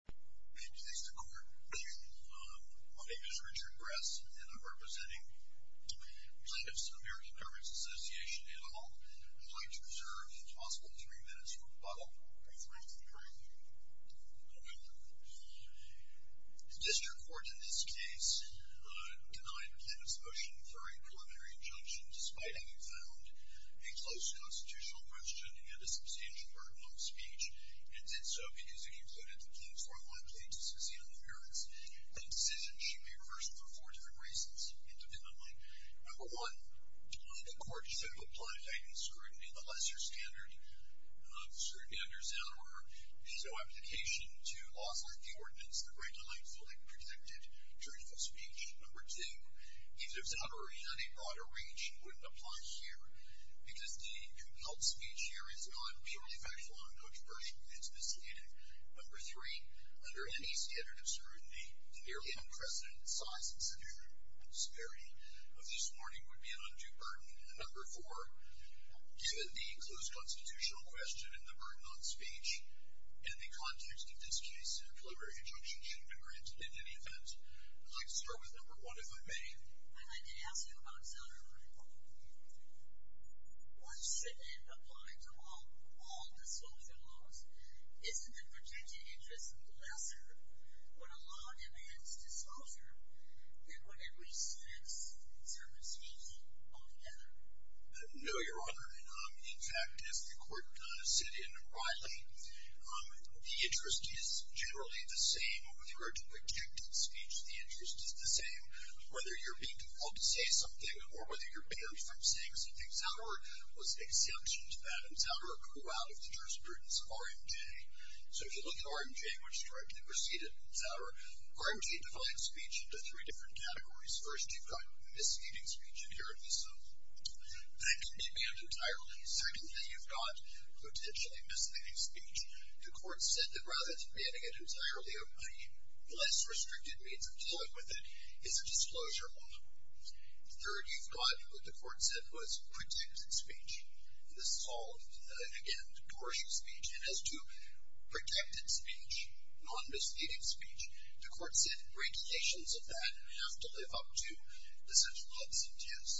District Court. My name is Richard Gress, and I'm representing Plaintiff's American Beverage Association in the hall. I'd like to reserve as possible three minutes for rebuttal, if that's okay with you. District Court in this case denied the plaintiff's motion for a preliminary injunction, despite having found a close constitutional question and a likely decision on the merits. That decision should be reversed for four different reasons, independently. Number one, the court should have applied a heightened scrutiny of the lesser standard of scrutiny under Zeller. There's no application to laws like the Ordinance that grant a light, fully protected, juridical speech. Number two, even if Zeller were in a broader range, he wouldn't apply here, because the compelled speech here is not purely factual, and no Number three, under any standard of scrutiny, the nearly unprecedented size and severity of this warning would be an undue burden. Number four, given the close constitutional question and the burden on speech, in the context of this case, a preliminary injunction should be granted in any event. I'd like to start with number one, if I may. I'd like to ask you about Zeller. Once Zeller applied to all the soldier laws, isn't the protected interest lesser when a law amends to soldier than when it restricts certain speech altogether? No, Your Honor. In fact, as the court said in O'Reilly, the interest is generally the same over the original protected speech. The interest is the same whether you're being compelled to say something or whether you're barred from saying some things. Zeller was under the jurisprudence of RMJ. So if you look at RMJ, which is directly preceded by Zeller, RMJ divides speech into three different categories. First, you've got misleading speech, and here it is. That can be banned entirely. Secondly, you've got potentially misleading speech. The court said that rather than banning it entirely, a less restricted means of dealing with it is a disclosure law. Third, you've got what the protected speech, non-misleading speech. The court said regulations of that have to live up to the central observance.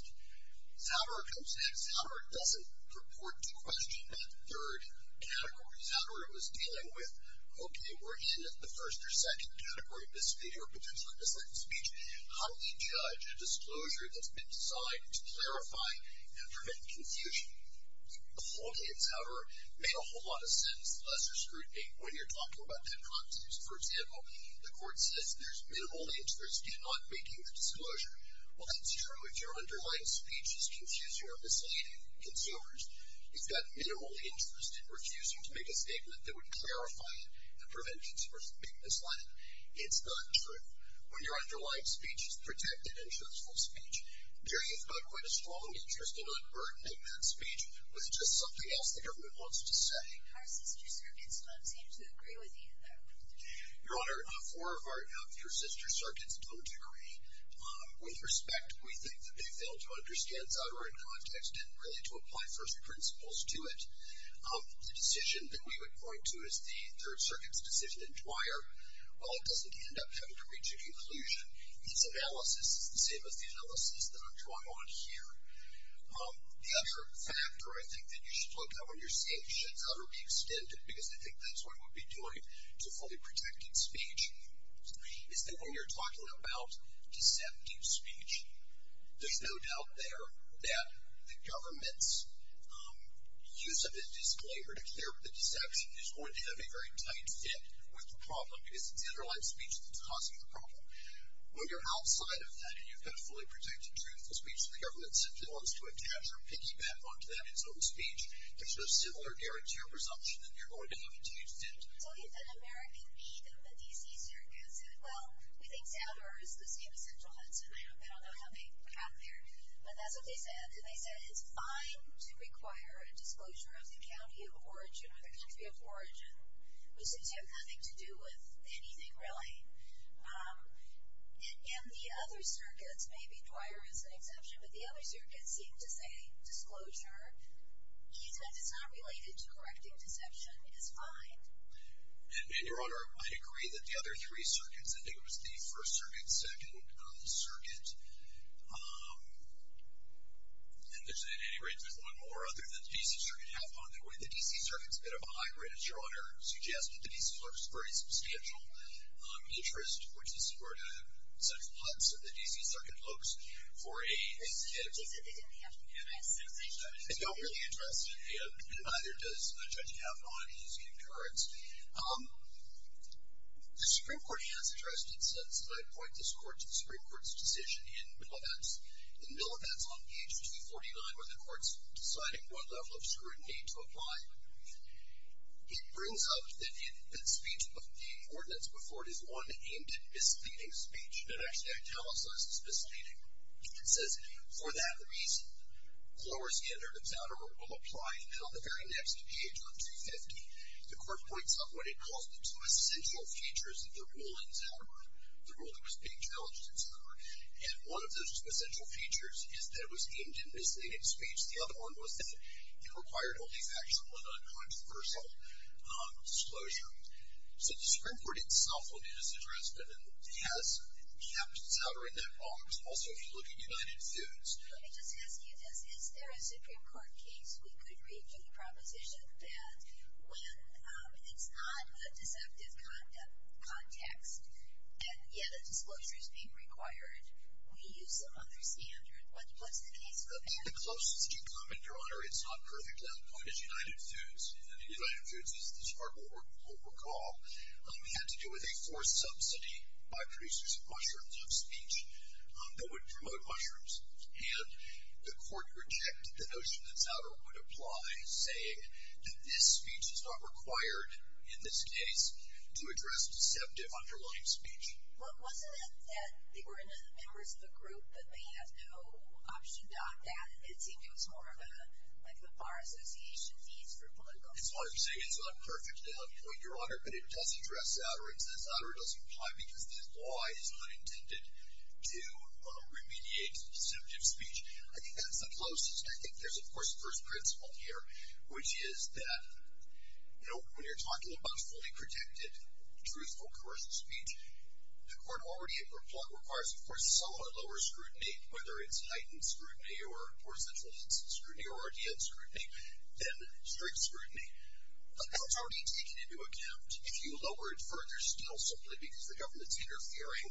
Zeller comes next. Zeller doesn't purport to question that third category. Zeller was dealing with, okay, we're in the first or second category of misleading or potentially misleading speech. How do we judge a disclosure that's been signed to a whole lot of sense, lesser scrutiny, when you're talking about their contents? For example, the court says there's minimal interest in not making the disclosure. Well, that's true if your underlying speech is confusing or misleading consumers. You've got minimal interest in refusing to make a statement that would clarify it and prevent consumers from being misled. It's not true when your underlying speech is protected and truthful speech. There is not quite a strong interest in unburdening that speech with just something else that the government wants to say. Our sister circuits don't seem to agree with you, though. Your Honor, four of your sister circuits don't agree. With respect, we think that they fail to understand Zeller in context and really to apply first principles to it. The decision that we would point to as the third circuit's decision in Dwyer, while it doesn't end up having to reach a conclusion, its analysis is the same as the analysis that I'm drawing on here. The other factor, I think, that you should look at when you're saying should Zeller be extended, because I think that's what it would be doing to fully protected speech, is that when you're talking about deceptive speech, there's no doubt there that the government's use of the disclaimer to clear up the deception is going to have a very tight fit with the problem, because it's the underlying speech that's causing the problem. When you're outside of that and you've got a fully protected truthful speech that the government simply wants to attach or piggyback onto that in its own speech, there's no similar guarantee or presumption that you're going to have to use Zeller. So an American lead in the D.C. circuit said, well, we think Zeller is the same as Central Hudson. I don't know how they got there, but that's what they said. And they said it's fine to require a disclosure of the county of origin or the country of origin, which seems to have nothing to do with anything really. And the other circuits, maybe Dwyer is an exception, but the other circuits seem to say disclosure is not related to correcting deception is fine. And, Your Honor, I agree that the other three circuits, I think it was the first circuit, second circuit, and there's one more other than the D.C. circuit, where the D.C. circuit is a bit of a hybrid, as Your Honor suggested. The D.C. looks for a substantial interest, which is where Central Hudson, the D.C. circuit, looks for a significant interest. It's not really interested, and neither does Judge Kavanaugh in his concurrence. The Supreme Court has addressed it since I appoint this Court to the Supreme Court's decision in Millivance. In Millivance, on page 249, where the Court's deciding what level of scrutiny to apply, it brings up that speech of the ordinance before it is one aimed at misleading speech. And actually, I tell us this is misleading. It says, for that reason, lower standard of Zadar will apply. And then on the very next page, on 250, the Court points up what it calls the two essential features of the rule in Zadar, the rule that was being challenged in Zadar. And one of those two essential features is that it was aimed at misleading speech. The other one was that it required only factual and uncontroversial disclosure. So the Supreme Court itself will do this address, but it has kept Zadar in that box. Also, if you look at United Foods. Let me just ask you this. Is there a Supreme Court case we could reach a proposition that when it's not a deceptive context, and yet a disclosure is being required, we use another standard? What's the case for that? The closest you comment, Your Honor, it's not perfect. That point is United Foods. United Foods, as this Court will recall, had to do with a forced subsidy by producers of mushrooms of speech that would promote mushrooms. And the Court rejected the notion that Zadar would apply, saying that this speech is not required in this case to address deceptive underlying speech. Well, wasn't it that they were members of a group that may have no option dot that? It seemed it was more of a, like the Bar Association needs for political. That's why I'm saying it's not perfect, Your Honor, but it does address Zadar. It says Zadar doesn't apply because this law is not intended to remediate deceptive speech. I think that's the closest. I think there's, of course, a first principle here, which is that, you know, when you're talking about fully protected, truthful, coercive speech, the Court already requires, of course, a somewhat lower scrutiny, whether it's heightened scrutiny or poor centralization scrutiny or RDN scrutiny than strict scrutiny. That's already taken into account if you lower it further still simply because the government's interfering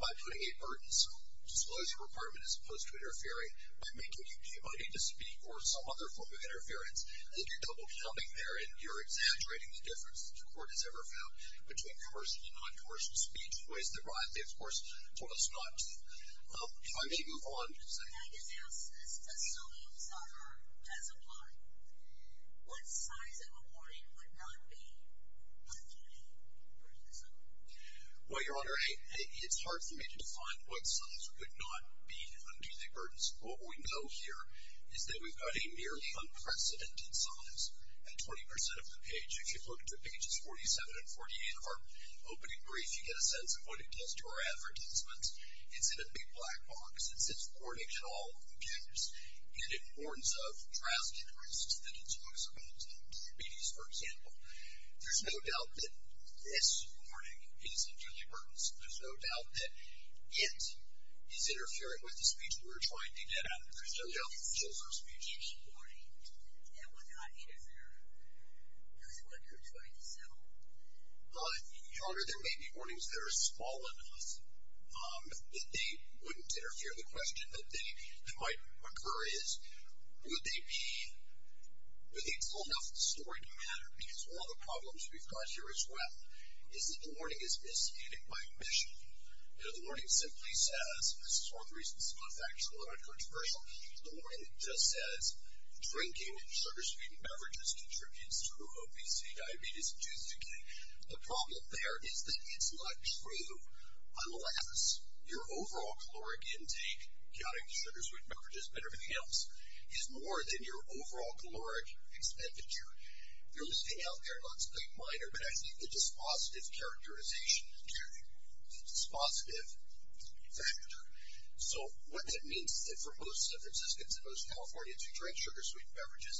by putting a burdensome disclosure requirement as opposed to interfering by making you be invited to speak or some other form of interference. Then you're double-counting there and you're exaggerating the difference that the Court has ever found between coercive and non-coercive speech, in ways that rightly, of course, told us not to. If I may move on. Yes, sir. I guess the answer to this question is Zadar does apply. What size of a warning would not be a duty burdensome? Well, Your Honor, it's hard for me to define what size would not be a duty burdensome. What we know here is that we've got a nearly unprecedented size at 20% of the page. If you look at pages 47 and 48 of our opening brief, you get a sense of what it does to our advertisements. It's in a big black box. It says, Warning to All Computers. And it warns of trials and arrests, that it's possible to have diabetes, for example. There's no doubt that this warning is a duty burdensome. There's no doubt that it is interfering with the speech that we're trying to get at. There's no doubt that the disclosure of speech is a duty burdensome. Yeah, well, then I'd interfere. Here's what you're trying to settle. Your Honor, there may be warnings that are small enough that they wouldn't interfere. The question that might occur is, would they be full enough story to matter? Because one of the problems we've got here as well is that the warning is misguided by mission. The warning simply says, and this is one of the reasons some of the facts are a little controversial, the warning just says, Drinking sugar-sweetened beverages contributes to obesity, diabetes, and tooth decay. The problem there is that it's not true. Unless your overall caloric intake, counting the sugar-sweetened beverages, better if it helps, is more than your overall caloric expenditure. You're listening out there. It looks quite minor, but I think the dispositive characterization is getting the dispositive factor. So what that means is that for most Franciscans and most Californians who drink sugar-sweetened beverages,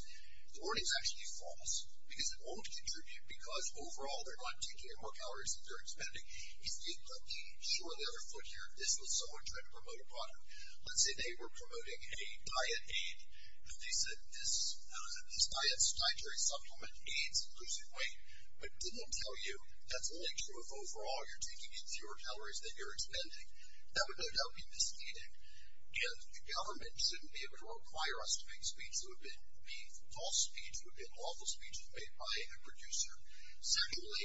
the warning is actually false, because it won't contribute, because overall they're not taking in more calories than they're expending. If you look at the short of the other foot here, this was someone trying to promote a product. Let's say they were promoting a diet aid, and they said this dietary supplement aids increasing weight, but didn't tell you that's only true if overall you're taking in fewer calories than you're expending. That would no doubt be misstated, and the government shouldn't be able to require us to make speech that would be false speech, that would be an awful speech made by a producer. Secondly,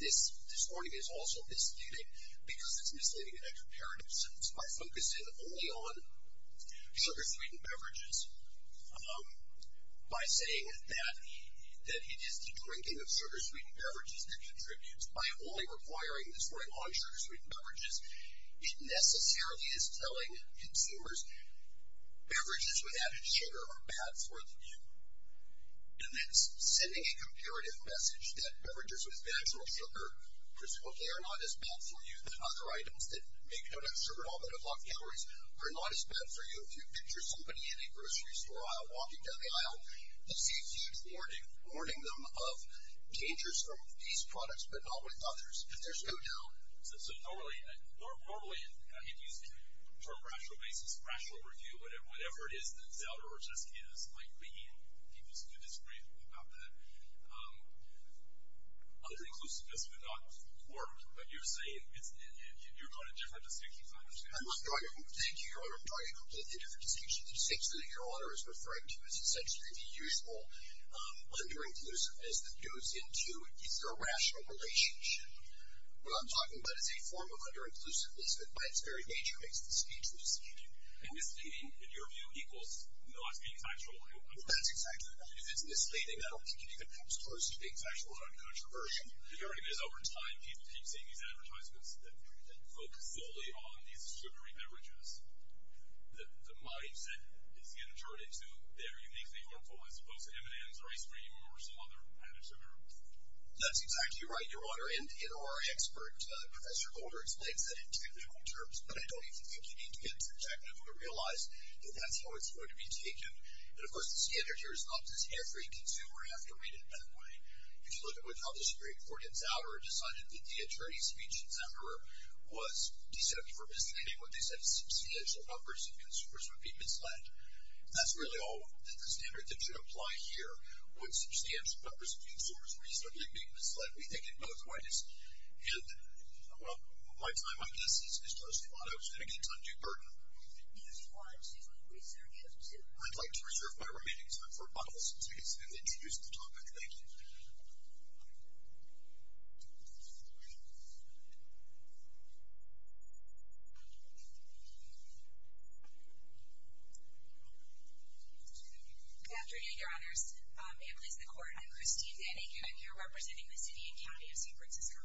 this warning is also misstated because it's misleading in a comparative sense by focusing only on sugar-sweetened beverages, by saying that it is the drinking of sugar-sweetened beverages that contributes, by only requiring this warning on sugar-sweetened beverages. It necessarily is telling consumers, beverages with added sugar are bad for you. And it's sending a comparative message that beverages with natural sugar, they are not as bad for you, the other items that make donut sugar all but unlock calories are not as bad for you. If you picture somebody in a grocery store aisle, walking down the aisle, they see a huge warning, warning them of dangers from these products, but not with others. If there's no doubt. So, normally, I mean, for a rational basis, rational review, whatever it is that Zelda or Jessica is likely to disagree about that, other inclusiveness would not work, but you're saying, you're going to different distinctions, I understand that. I'm not going to, thank you, Your Honor, I'm going to completely different distinctions. The distinction that Your Honor is referring to is essentially the usual under-inclusiveness that goes into either a rational relationship. What I'm talking about is a form of under-inclusiveness that, by its very nature, makes the speech misleading. And misleading, in your view, equals not being factual. That's exactly right. If it's misleading, that'll keep you even closer to being factual about a controversy. The irony is, over time, people keep seeing these advertisements that focus solely on these sugary beverages. The mic that is being turned into their uniquely harmful as opposed to M&M's or ice cream or some other kind of sugar. That's exactly right, Your Honor. And our expert, Professor Golder, explains that in two different terms. But I don't even think you need to get too technical to realize that that's how it's going to be taken. And, of course, the standard here is not just here for you to consume, or you have to read it that way. If you look at what the Publishing Bureau, four years after, decided that the attorney's speech in September was deceptive or misleading when they said substantial numbers of consumers would be misled, that's really all that the standard that should apply here, would substantial numbers of consumers reasonably be misled. We think in both ways. And my time on this is closing on it. I was going to get into undue burden. I'd like to reserve my remaining time for a couple of minutes and introduce the topic. Thank you. Good afternoon, Your Honors. It pleases the Court. I'm Christine Denning, and I'm here representing the city and county of San Francisco.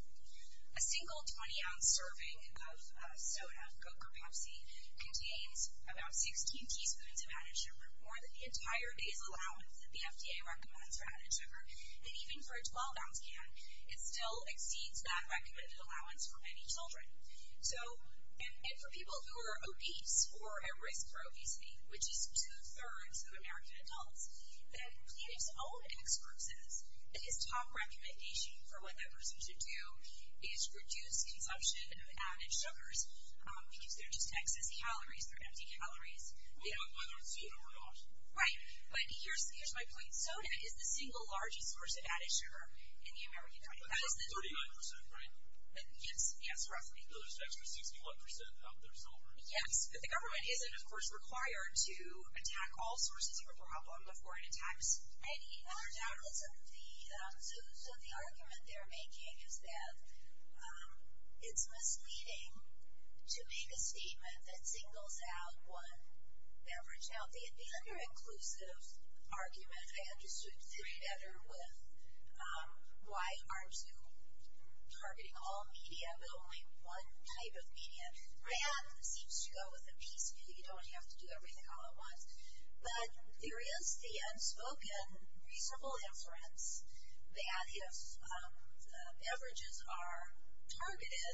A single 20-ounce serving of soda, Coke or Pepsi, contains about 16 teaspoons of added sugar, more than the entire base allowance that the FDA recommends for added sugar. And even for a 12-ounce can, it still exceeds that recommended allowance for many children. And for people who are obese or at risk for obesity, which is two-thirds of American adults, the clinic's own expert says that his top recommendation for what that person should do is reduce consumption of added sugars because they're just excess calories, they're empty calories. Whether it's soda or not. Right. But here's my point. Soda is the single largest source of added sugar in the American diet. That's about 39%, right? Yes. Yes, roughly. So there's an extra 61% of the result. The government isn't, of course, required to attack all sources of a problem before it attacks any other. So the argument they're making is that it's misleading to make a statement that singles out one average child. The under-inclusive argument I understood together with why aren't you targeting all media but only one type of media. That seems to go with a piece, maybe you don't have to do everything all at once. But there is the unspoken reasonable inference that if averages are targeted,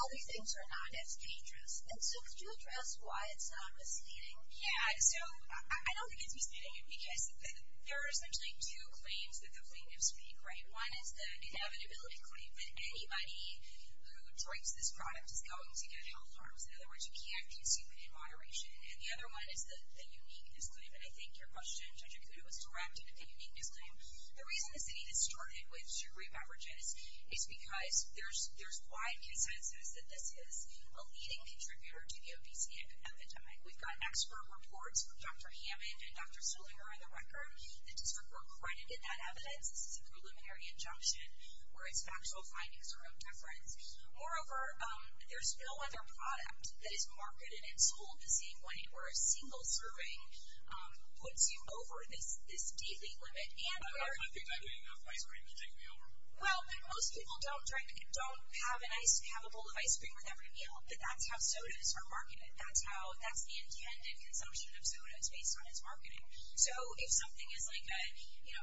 other things are not as dangerous. And so could you address why it's not misleading? Yeah, so I don't think it's misleading because there are essentially two claims that the plaintiffs make, right? One is the inevitability claim that anybody who drinks this product is going to get health harms. In other words, you can't consume it in moderation. And the other one is the uniqueness claim. And I think your question, Judge Akuda, was directed at the uniqueness claim. The reason the city that started with sugary beverages is because there's wide consensus that this is a leading contributor to the obesity epidemic. We've got expert reports from Dr. Hammond and Dr. Sollinger on the record. The district were credited that evidence. This is a preliminary injunction where its factual findings are of deference. Moreover, there's no other product that is marketed and sold the same way where a single serving puts you over this daily limit. I don't think I drink enough ice cream to take me over. Well, most people don't drink, don't have a bowl of ice cream with every meal. But that's how sodas are marketed. That's the intended consumption of sodas based on its marketing. So if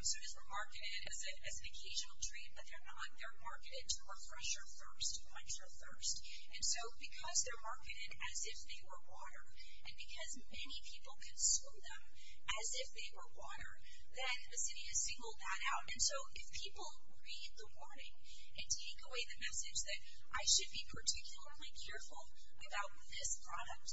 sodas were marketed as an occasional treat, but they're not, they're marketed to refresh your thirst, quench your thirst. And so because they're marketed as if they were water, and because many people consume them as if they were water, then the city has singled that out. And so if people read the warning and take away the message that I should be particularly careful about this product,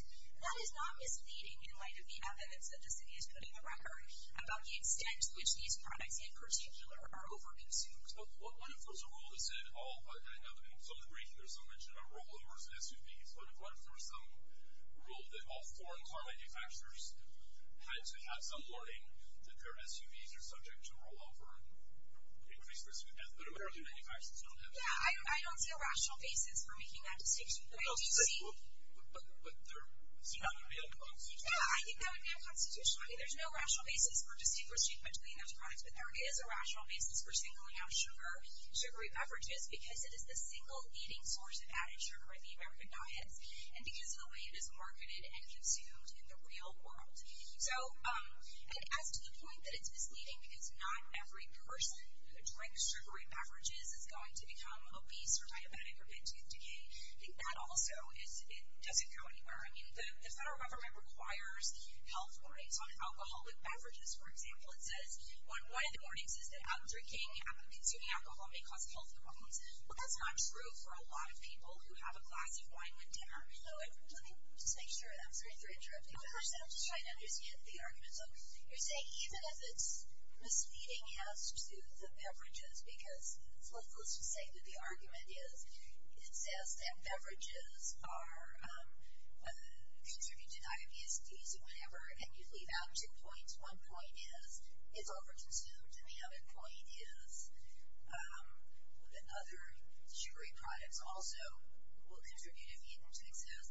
that is not misleading in light of the evidence that the city is putting on record about the extent to which these products, in particular, are over-consumed. But what if there's a rule that said all, I mean, some degree, there's some mention of rollovers and SUVs, but what if there was some rule that all foreign car manufacturers had to have some warning that their SUVs are subject to rollover, increased risk of death, but American manufacturers don't have that? Yeah, I don't see a rational basis for making that distinction. Well, but they're seen on a daily basis. Yeah, I think that would be unconstitutional. I mean, there's no rational basis for distinguishing between those products, but there is a rational basis for singling out sugary beverages because it is the single eating source of added sugar in the American diets, and because of the way it is marketed and consumed in the real world. And as to the point that it's misleading, because not every person who drinks sugary beverages is going to become obese or diabetic or be in tooth decay, I think that also doesn't go anywhere. I mean, the federal government requires health warnings on alcoholic beverages. For example, it says on one of the warnings is that out drinking and consuming alcohol may cause health problems. Well, that's not true for a lot of people who have a glass of wine with dinner. Let me just make sure. I'm sorry if I'm interrupting. I'm just trying to understand the argument. So you're saying even if it's misleading as to the beverages, because let's just say that the argument is, it says that beverages contribute to diabetes and whatever, and you leave out two points. One point is it's over-consumed, and the other point is that other sugary products also will contribute if eaten to excess.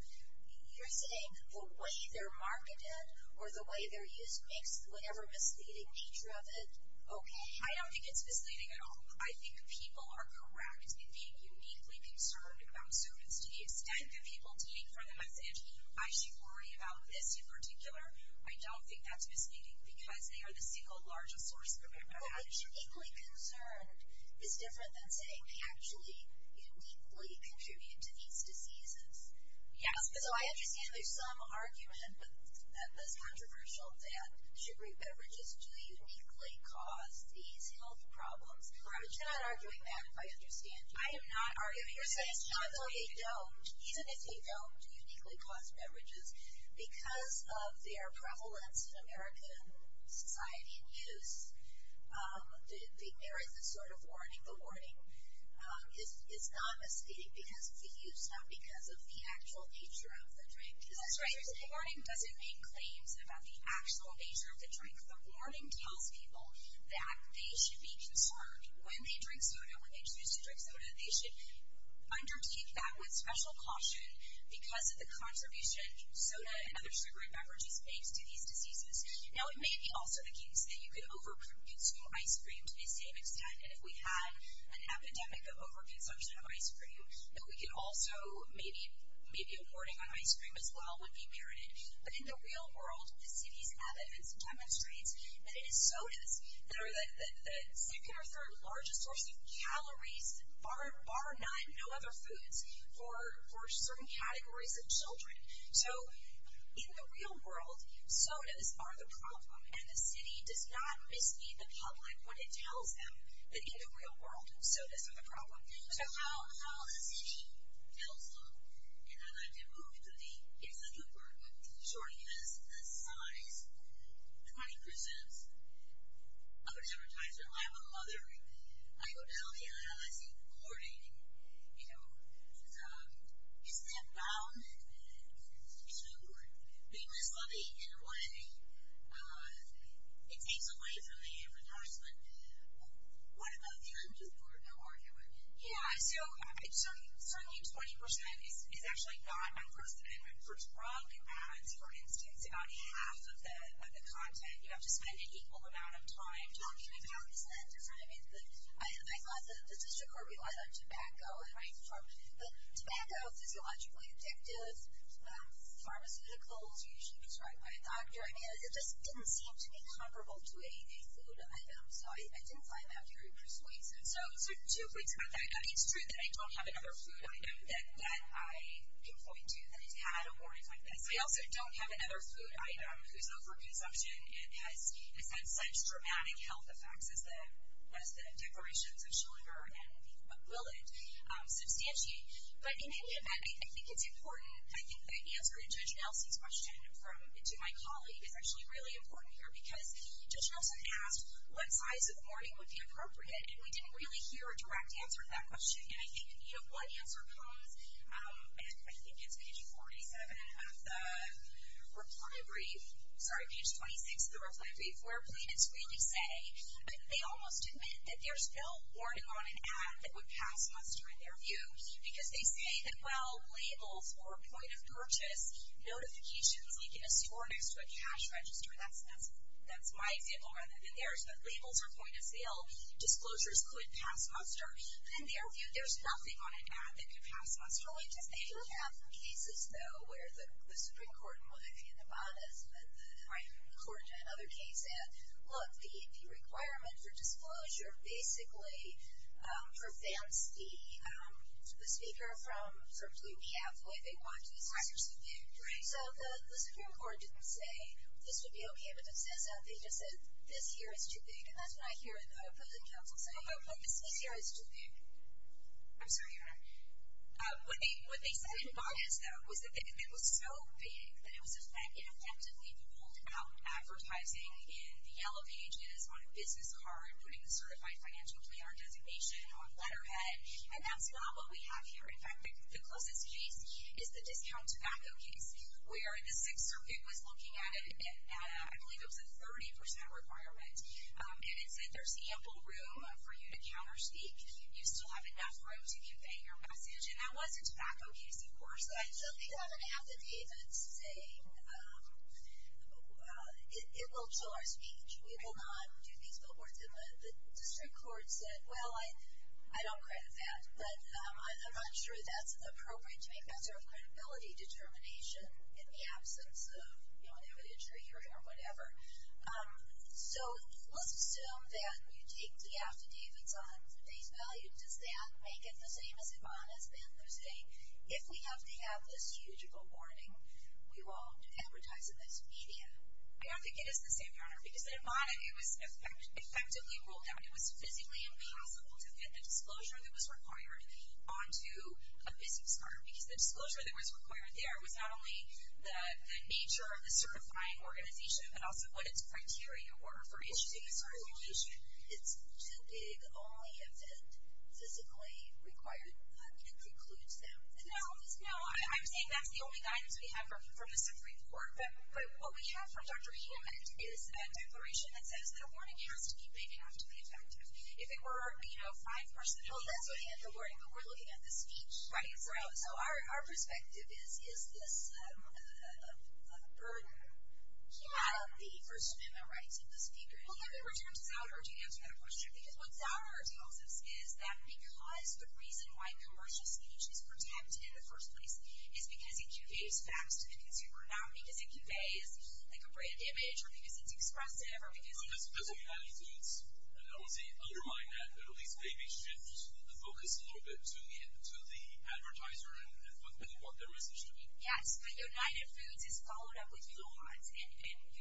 You're saying the way they're marketed or the way they're used makes whatever misleading feature of it? Okay. I don't think it's misleading at all. I think people are correct in being uniquely concerned about sugars to the extent that people take for the message, I should worry about this in particular. I don't think that's misleading because they are the single largest source of information. Well, uniquely concerned is different than saying actually uniquely contributed to these diseases. Yes. So I understand there's some argument that this controversial that sugary beverages do uniquely cause these health problems. But you're not arguing that if I understand you. I am not arguing that. So it's not that they don't, even if they don't uniquely cause beverages, because of their prevalence in American society and use, there is a sort of warning. I think the warning is not misleading because of the use, not because of the actual nature of the drink. That's right. The warning doesn't make claims about the actual nature of the drink. The warning tells people that they should be concerned when they drink soda, when they choose to drink soda, they should undertake that with special caution because of the contribution soda and other sugary beverages makes to these diseases. Now, it may be also the case that you could over-produce more ice cream to the same extent. And if we had an epidemic of over-consumption of ice cream, that we could also maybe a warning on ice cream as well would be merited. But in the real world, the city's evidence demonstrates that it is sodas that are the second or third largest source of calories, bar none, no other foods for certain categories of children. So in the real world, sodas are the problem. And the city does not mislead the public when it tells them that in the real world, sodas are the problem. So how the city tells them, and I'd like to move to the, it's a new word, shortiness, the size, 20% of its advertisers. I have a mother. I go down there and I see the warning, you know, being misleading in a way, it takes away from the advertisement. What about the other part of the argument? Yeah, so certainly 20% is actually not unfortunate. For drug ads, for instance, about half of the content, you have to spend an equal amount of time talking about. Isn't that different? I mean, I thought the district court relied on tobacco. Tobacco is physiologically addictive. Pharmaceuticals are usually prescribed by a doctor. I mean, it just didn't seem to be comparable to a food item, so I didn't find that very persuasive. So two points about that. I mean, it's true that I don't have another food item that I can point to that has had a warning like this. I also don't have another food item whose overconsumption has had such dramatic health effects as the declarations of sugar and will it substantiate. But in that, I think it's important. I think the answer to Judge Nelson's question to my colleague is actually really important here because Judge Nelson asked what size of warning would be appropriate, and we didn't really hear a direct answer to that question. And I think in view of what answer comes, and I think it's page 47 of the reply brief, sorry, page 26 of the reply brief, that's where plaintiffs really say, and they almost admit that there's no warning on an ad that would pass muster in their view because they say that, well, labels or point of purchase, notifications like in a store next to a cash register, that's my example rather than theirs, that labels are point of sale, disclosures could pass muster. In their view, there's nothing on an ad that could pass muster. They do have cases, though, where the Supreme Court, in Ibanez, according to another case, said, look, the requirement for disclosure basically prevents the speaker from sort of doing half the way they want to because it's too big. So the Supreme Court didn't say this would be okay, but it says that they just said this here is too big, and that's what I hear the opposing counsel say. This here is too big. I'm sorry, Your Honor. What they said in Ibanez, though, was that it was so big that it was effectively ruled out advertising in the yellow pages on a business card, putting a certified financial plan or designation on letterhead, and that's not what we have here. In fact, the closest case is the discount tobacco case where the Sixth Circuit was looking at it, and I believe it was a 30% requirement, and it said there's ample room for you to counterspeak. You still have enough room to convey your message, and that was a tobacco case, of course. So they have an affidavit saying it will chill our speech. We will not do these billboards. And the district court said, well, I don't credit that, but I'm not sure that's appropriate to make that sort of credibility determination in the absence of, you know, an evidentiary hearing or whatever. So let's assume that you take the affidavits on today's value. Does that make it the same as Ibanez ban Thursday? If we have to have this huge awarding, we won't advertise in this media. I don't think it is the same, Your Honor, because in Ibanez, it was effectively ruled out. It was physically impossible to get the disclosure that was required onto a business card because the disclosure that was required there was not only the nature of the certifying organization, but also what its criteria were for issuing a certification. It's too big only if it physically required concludes that. No, no. I'm saying that's the only guidance we have from the Supreme Court. But what we have from Dr. Heumann is a declaration that says that a awarding has to be big enough to be effective. If it were, you know, five persons, well, that's only at the awarding, but we're looking at the speech. Right. So our perspective is, is this a burden? Yeah. The First Amendment rights of the speaker. Well, can we return to Zouder? Do you answer that question? Because what Zouder tells us is that we realize the reason why commercial speech is protected in the first place is because it conveys facts to the consumer, not because it conveys, like, a brand image or because it's expressive or because it's – No, that's a different attitude. And I would say undermine that, but at least maybe shift the focus a little bit to the advertiser and what their position is. Yes. But United Foods has followed up with Yohannes, and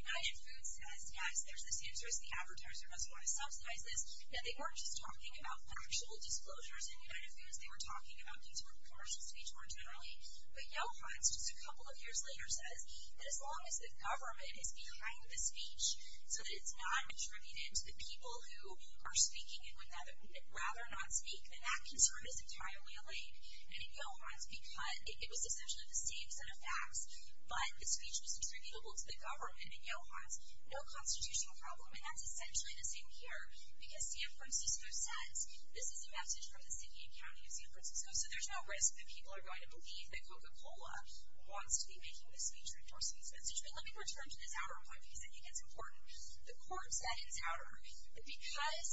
United Foods says, yes, there's this interest. The advertiser must want to subsidize this. Now, they weren't just talking about factual disclosures in United Foods. They were talking about consumer commercial speech more generally. But Yohannes, just a couple of years later, says that as long as the government is behind the speech so that it's not attributed to the people who are speaking and would rather not speak, then that concern is entirely allayed. And in Yohannes, because it was essentially the same set of facts, but the speech was attributable to the government in Yohannes, no constitutional problem. And that's essentially the same here, because San Francisco says, this is a message from the city and county of San Francisco, so there's no risk that people are going to believe that Coca-Cola wants to be making this speech or endorsing this message. But let me return to this outer point, because I think it's important. The court said in Zouder that because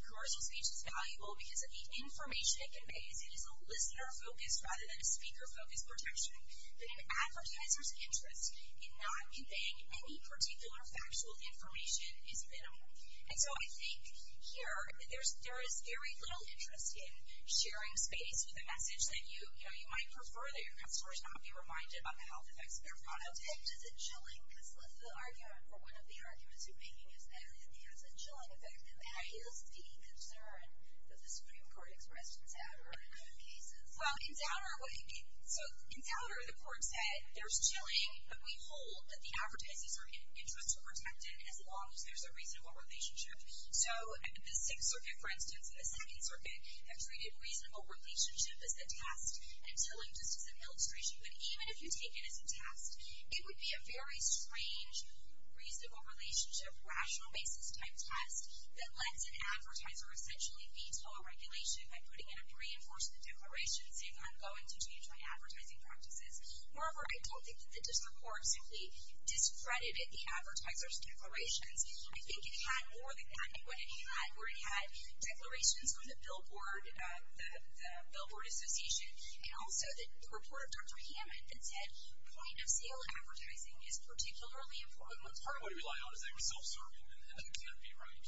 commercial speech is valuable, because of the information it conveys, it is a listener focus rather than a speaker focus projection, that an advertiser's interest in not conveying any particular factual information is minimal. And so I think here, there is very little interest in sharing space with a message that you might prefer that your customers not be reminded about the health effects of their product. Does it protect? Is it chilling? Because the argument for one of the arguments you're making is that it has a chilling effect, and that is the concern that the Supreme Court expressed in Zouder in other cases. Well, in Zouder, the court said, there's chilling, but we hold that the advertisers' interests are protected as long as there's a reasonable relationship. So the Sixth Circuit, for instance, and the Second Circuit have treated reasonable relationship as a task and chilling just as an illustration. But even if you take it as a task, it would be a very strange reasonable relationship, rational basis type test that lets an advertiser essentially veto a regulation by putting in a reinforcement declaration and saying, I'm going to change my advertising practices. Moreover, I don't think that the digital court simply discredited the advertiser's declarations. I think it had more than that in what it had, where it had declarations on the billboard, the billboard association, and also the report of Dr. Hammond that said point-of-sale advertising is particularly important. What we rely on is they were self-serving, and that would be right.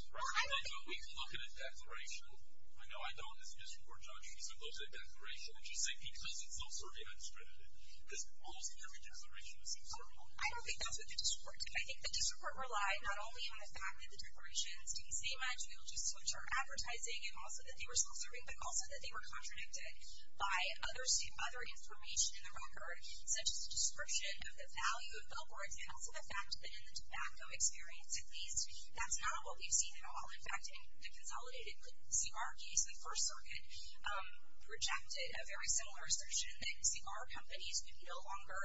We look at a declaration. I know I don't as a district court judge, because I look at a declaration and just say, because it's self-serving, I discredited it. Because almost every declaration is self-serving. I don't think that's what the district court did. I think the district court relied not only on the fact that the declaration didn't say much, we'll just switch our advertising, and also that they were self-serving, but also that they were contradicted by other information in the record, such as the description of the value of billboards, and also the fact that in the tobacco experience at least, that's not what we've seen at all. In fact, in the consolidated CR case, the First Circuit rejected a very similar assertion that CR companies would no longer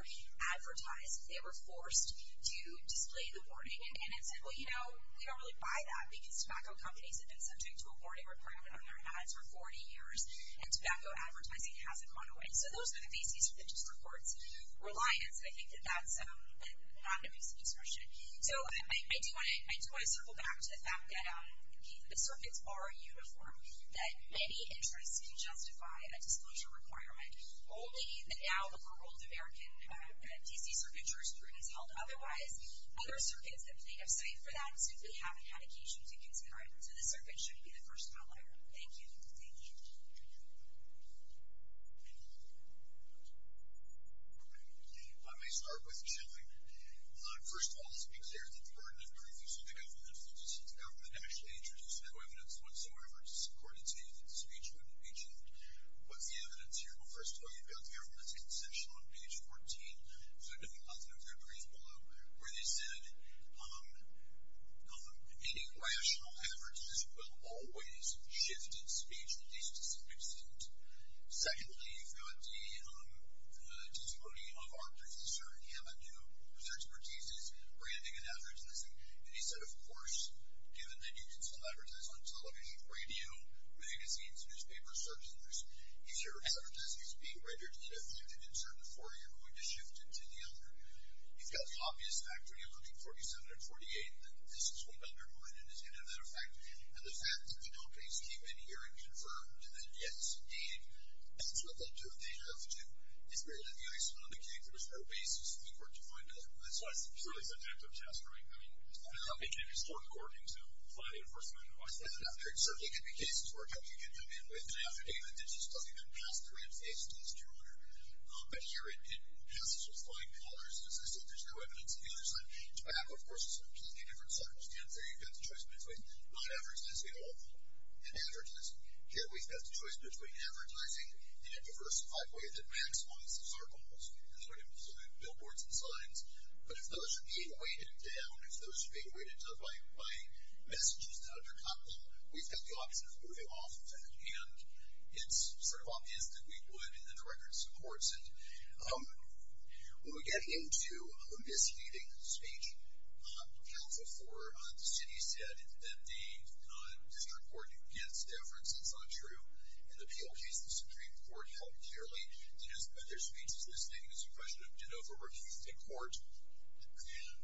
advertise if they were forced to display the warning. And it said, well, you know, we don't really buy that, because tobacco companies have been subject to a warning requirement on their ads for 40 years, and tobacco advertising hasn't gone away. So those are the pieces of the district court's reliance, and I think that that's a non-obvious assertion. So I do want to circle back to the fact that the circuits are uniform, that many interests can justify a disclosure requirement, only that now the world of American DC Circuit jurisprudence is held otherwise. Other circuits that may have cited for that simply haven't had occasion to consider it. So the circuit should be the first outlier. Thank you. Thank you. I may start with Jim. First of all, it's been clear that the burden of proving that the government falsely sees the government has introduced no evidence whatsoever, according to the speech from the agent. But the evidence here will first tell you about the government's assertion on page 14. So go to the content of your brief below, where they said any rational advertisers will always shift in speech at least to some extent. Secondly, you've got the testimony of our predecessor, Hammond, whose expertise is branding and advertising. And he said, of course, given that you can still advertise on television, radio, magazines, newspapers, certain news, you're going to shift into the other. You've got the obvious fact when you're looking 47 or 48 that this is what got your mind, and it's going to have that effect. And the fact that the advocates came in here and confirmed that, yes, indeed, that's what they'll do if they have to, is really the icing on the cake. There's no basis in the court to find out. That's why it's a really subjective test, right? I mean, it can be strong courting, so apply the enforcement advice. There certainly can be cases where a judge can come in with an affidavit that just doesn't even pass the range test, Your Honor. But here it passes with flying colors because they say there's no evidence of the other side. Tobacco, of course, is a completely different circumstance. There you've got the choice between not advertising at all and advertising. Here we've got the choice between advertising in a diversified way that maximizes our goals, including billboards and signs. But if those are being weighted down, if those are being weighted down by messages that undercut them, we've got the obvious way off of that. And it's sort of obvious that we would in the directorate of courts. And when we get into misusing speech, as before, the city said that the district court gets deference. That's not true. In the Peel case, the Supreme Court held clearly that their speech is misusing. It's a question of de novo, refused in court.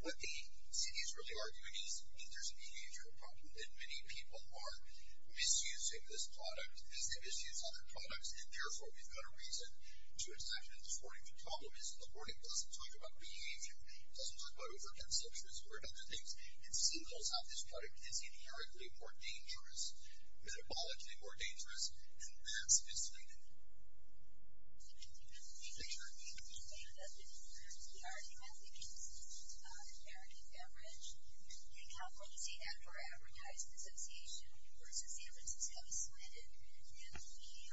What the city is really arguing is that there's a behavioral problem and many people are misusing this product as they misuse other products. And, therefore, we've got a reason to accept it. The problem is the wording doesn't talk about behavior. It doesn't talk about overconceptions or other things. It signals how this product is empirically more dangerous, metabolically more dangerous, and that's misleading. Thank you. We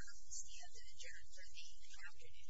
are adjourned for the afternoon.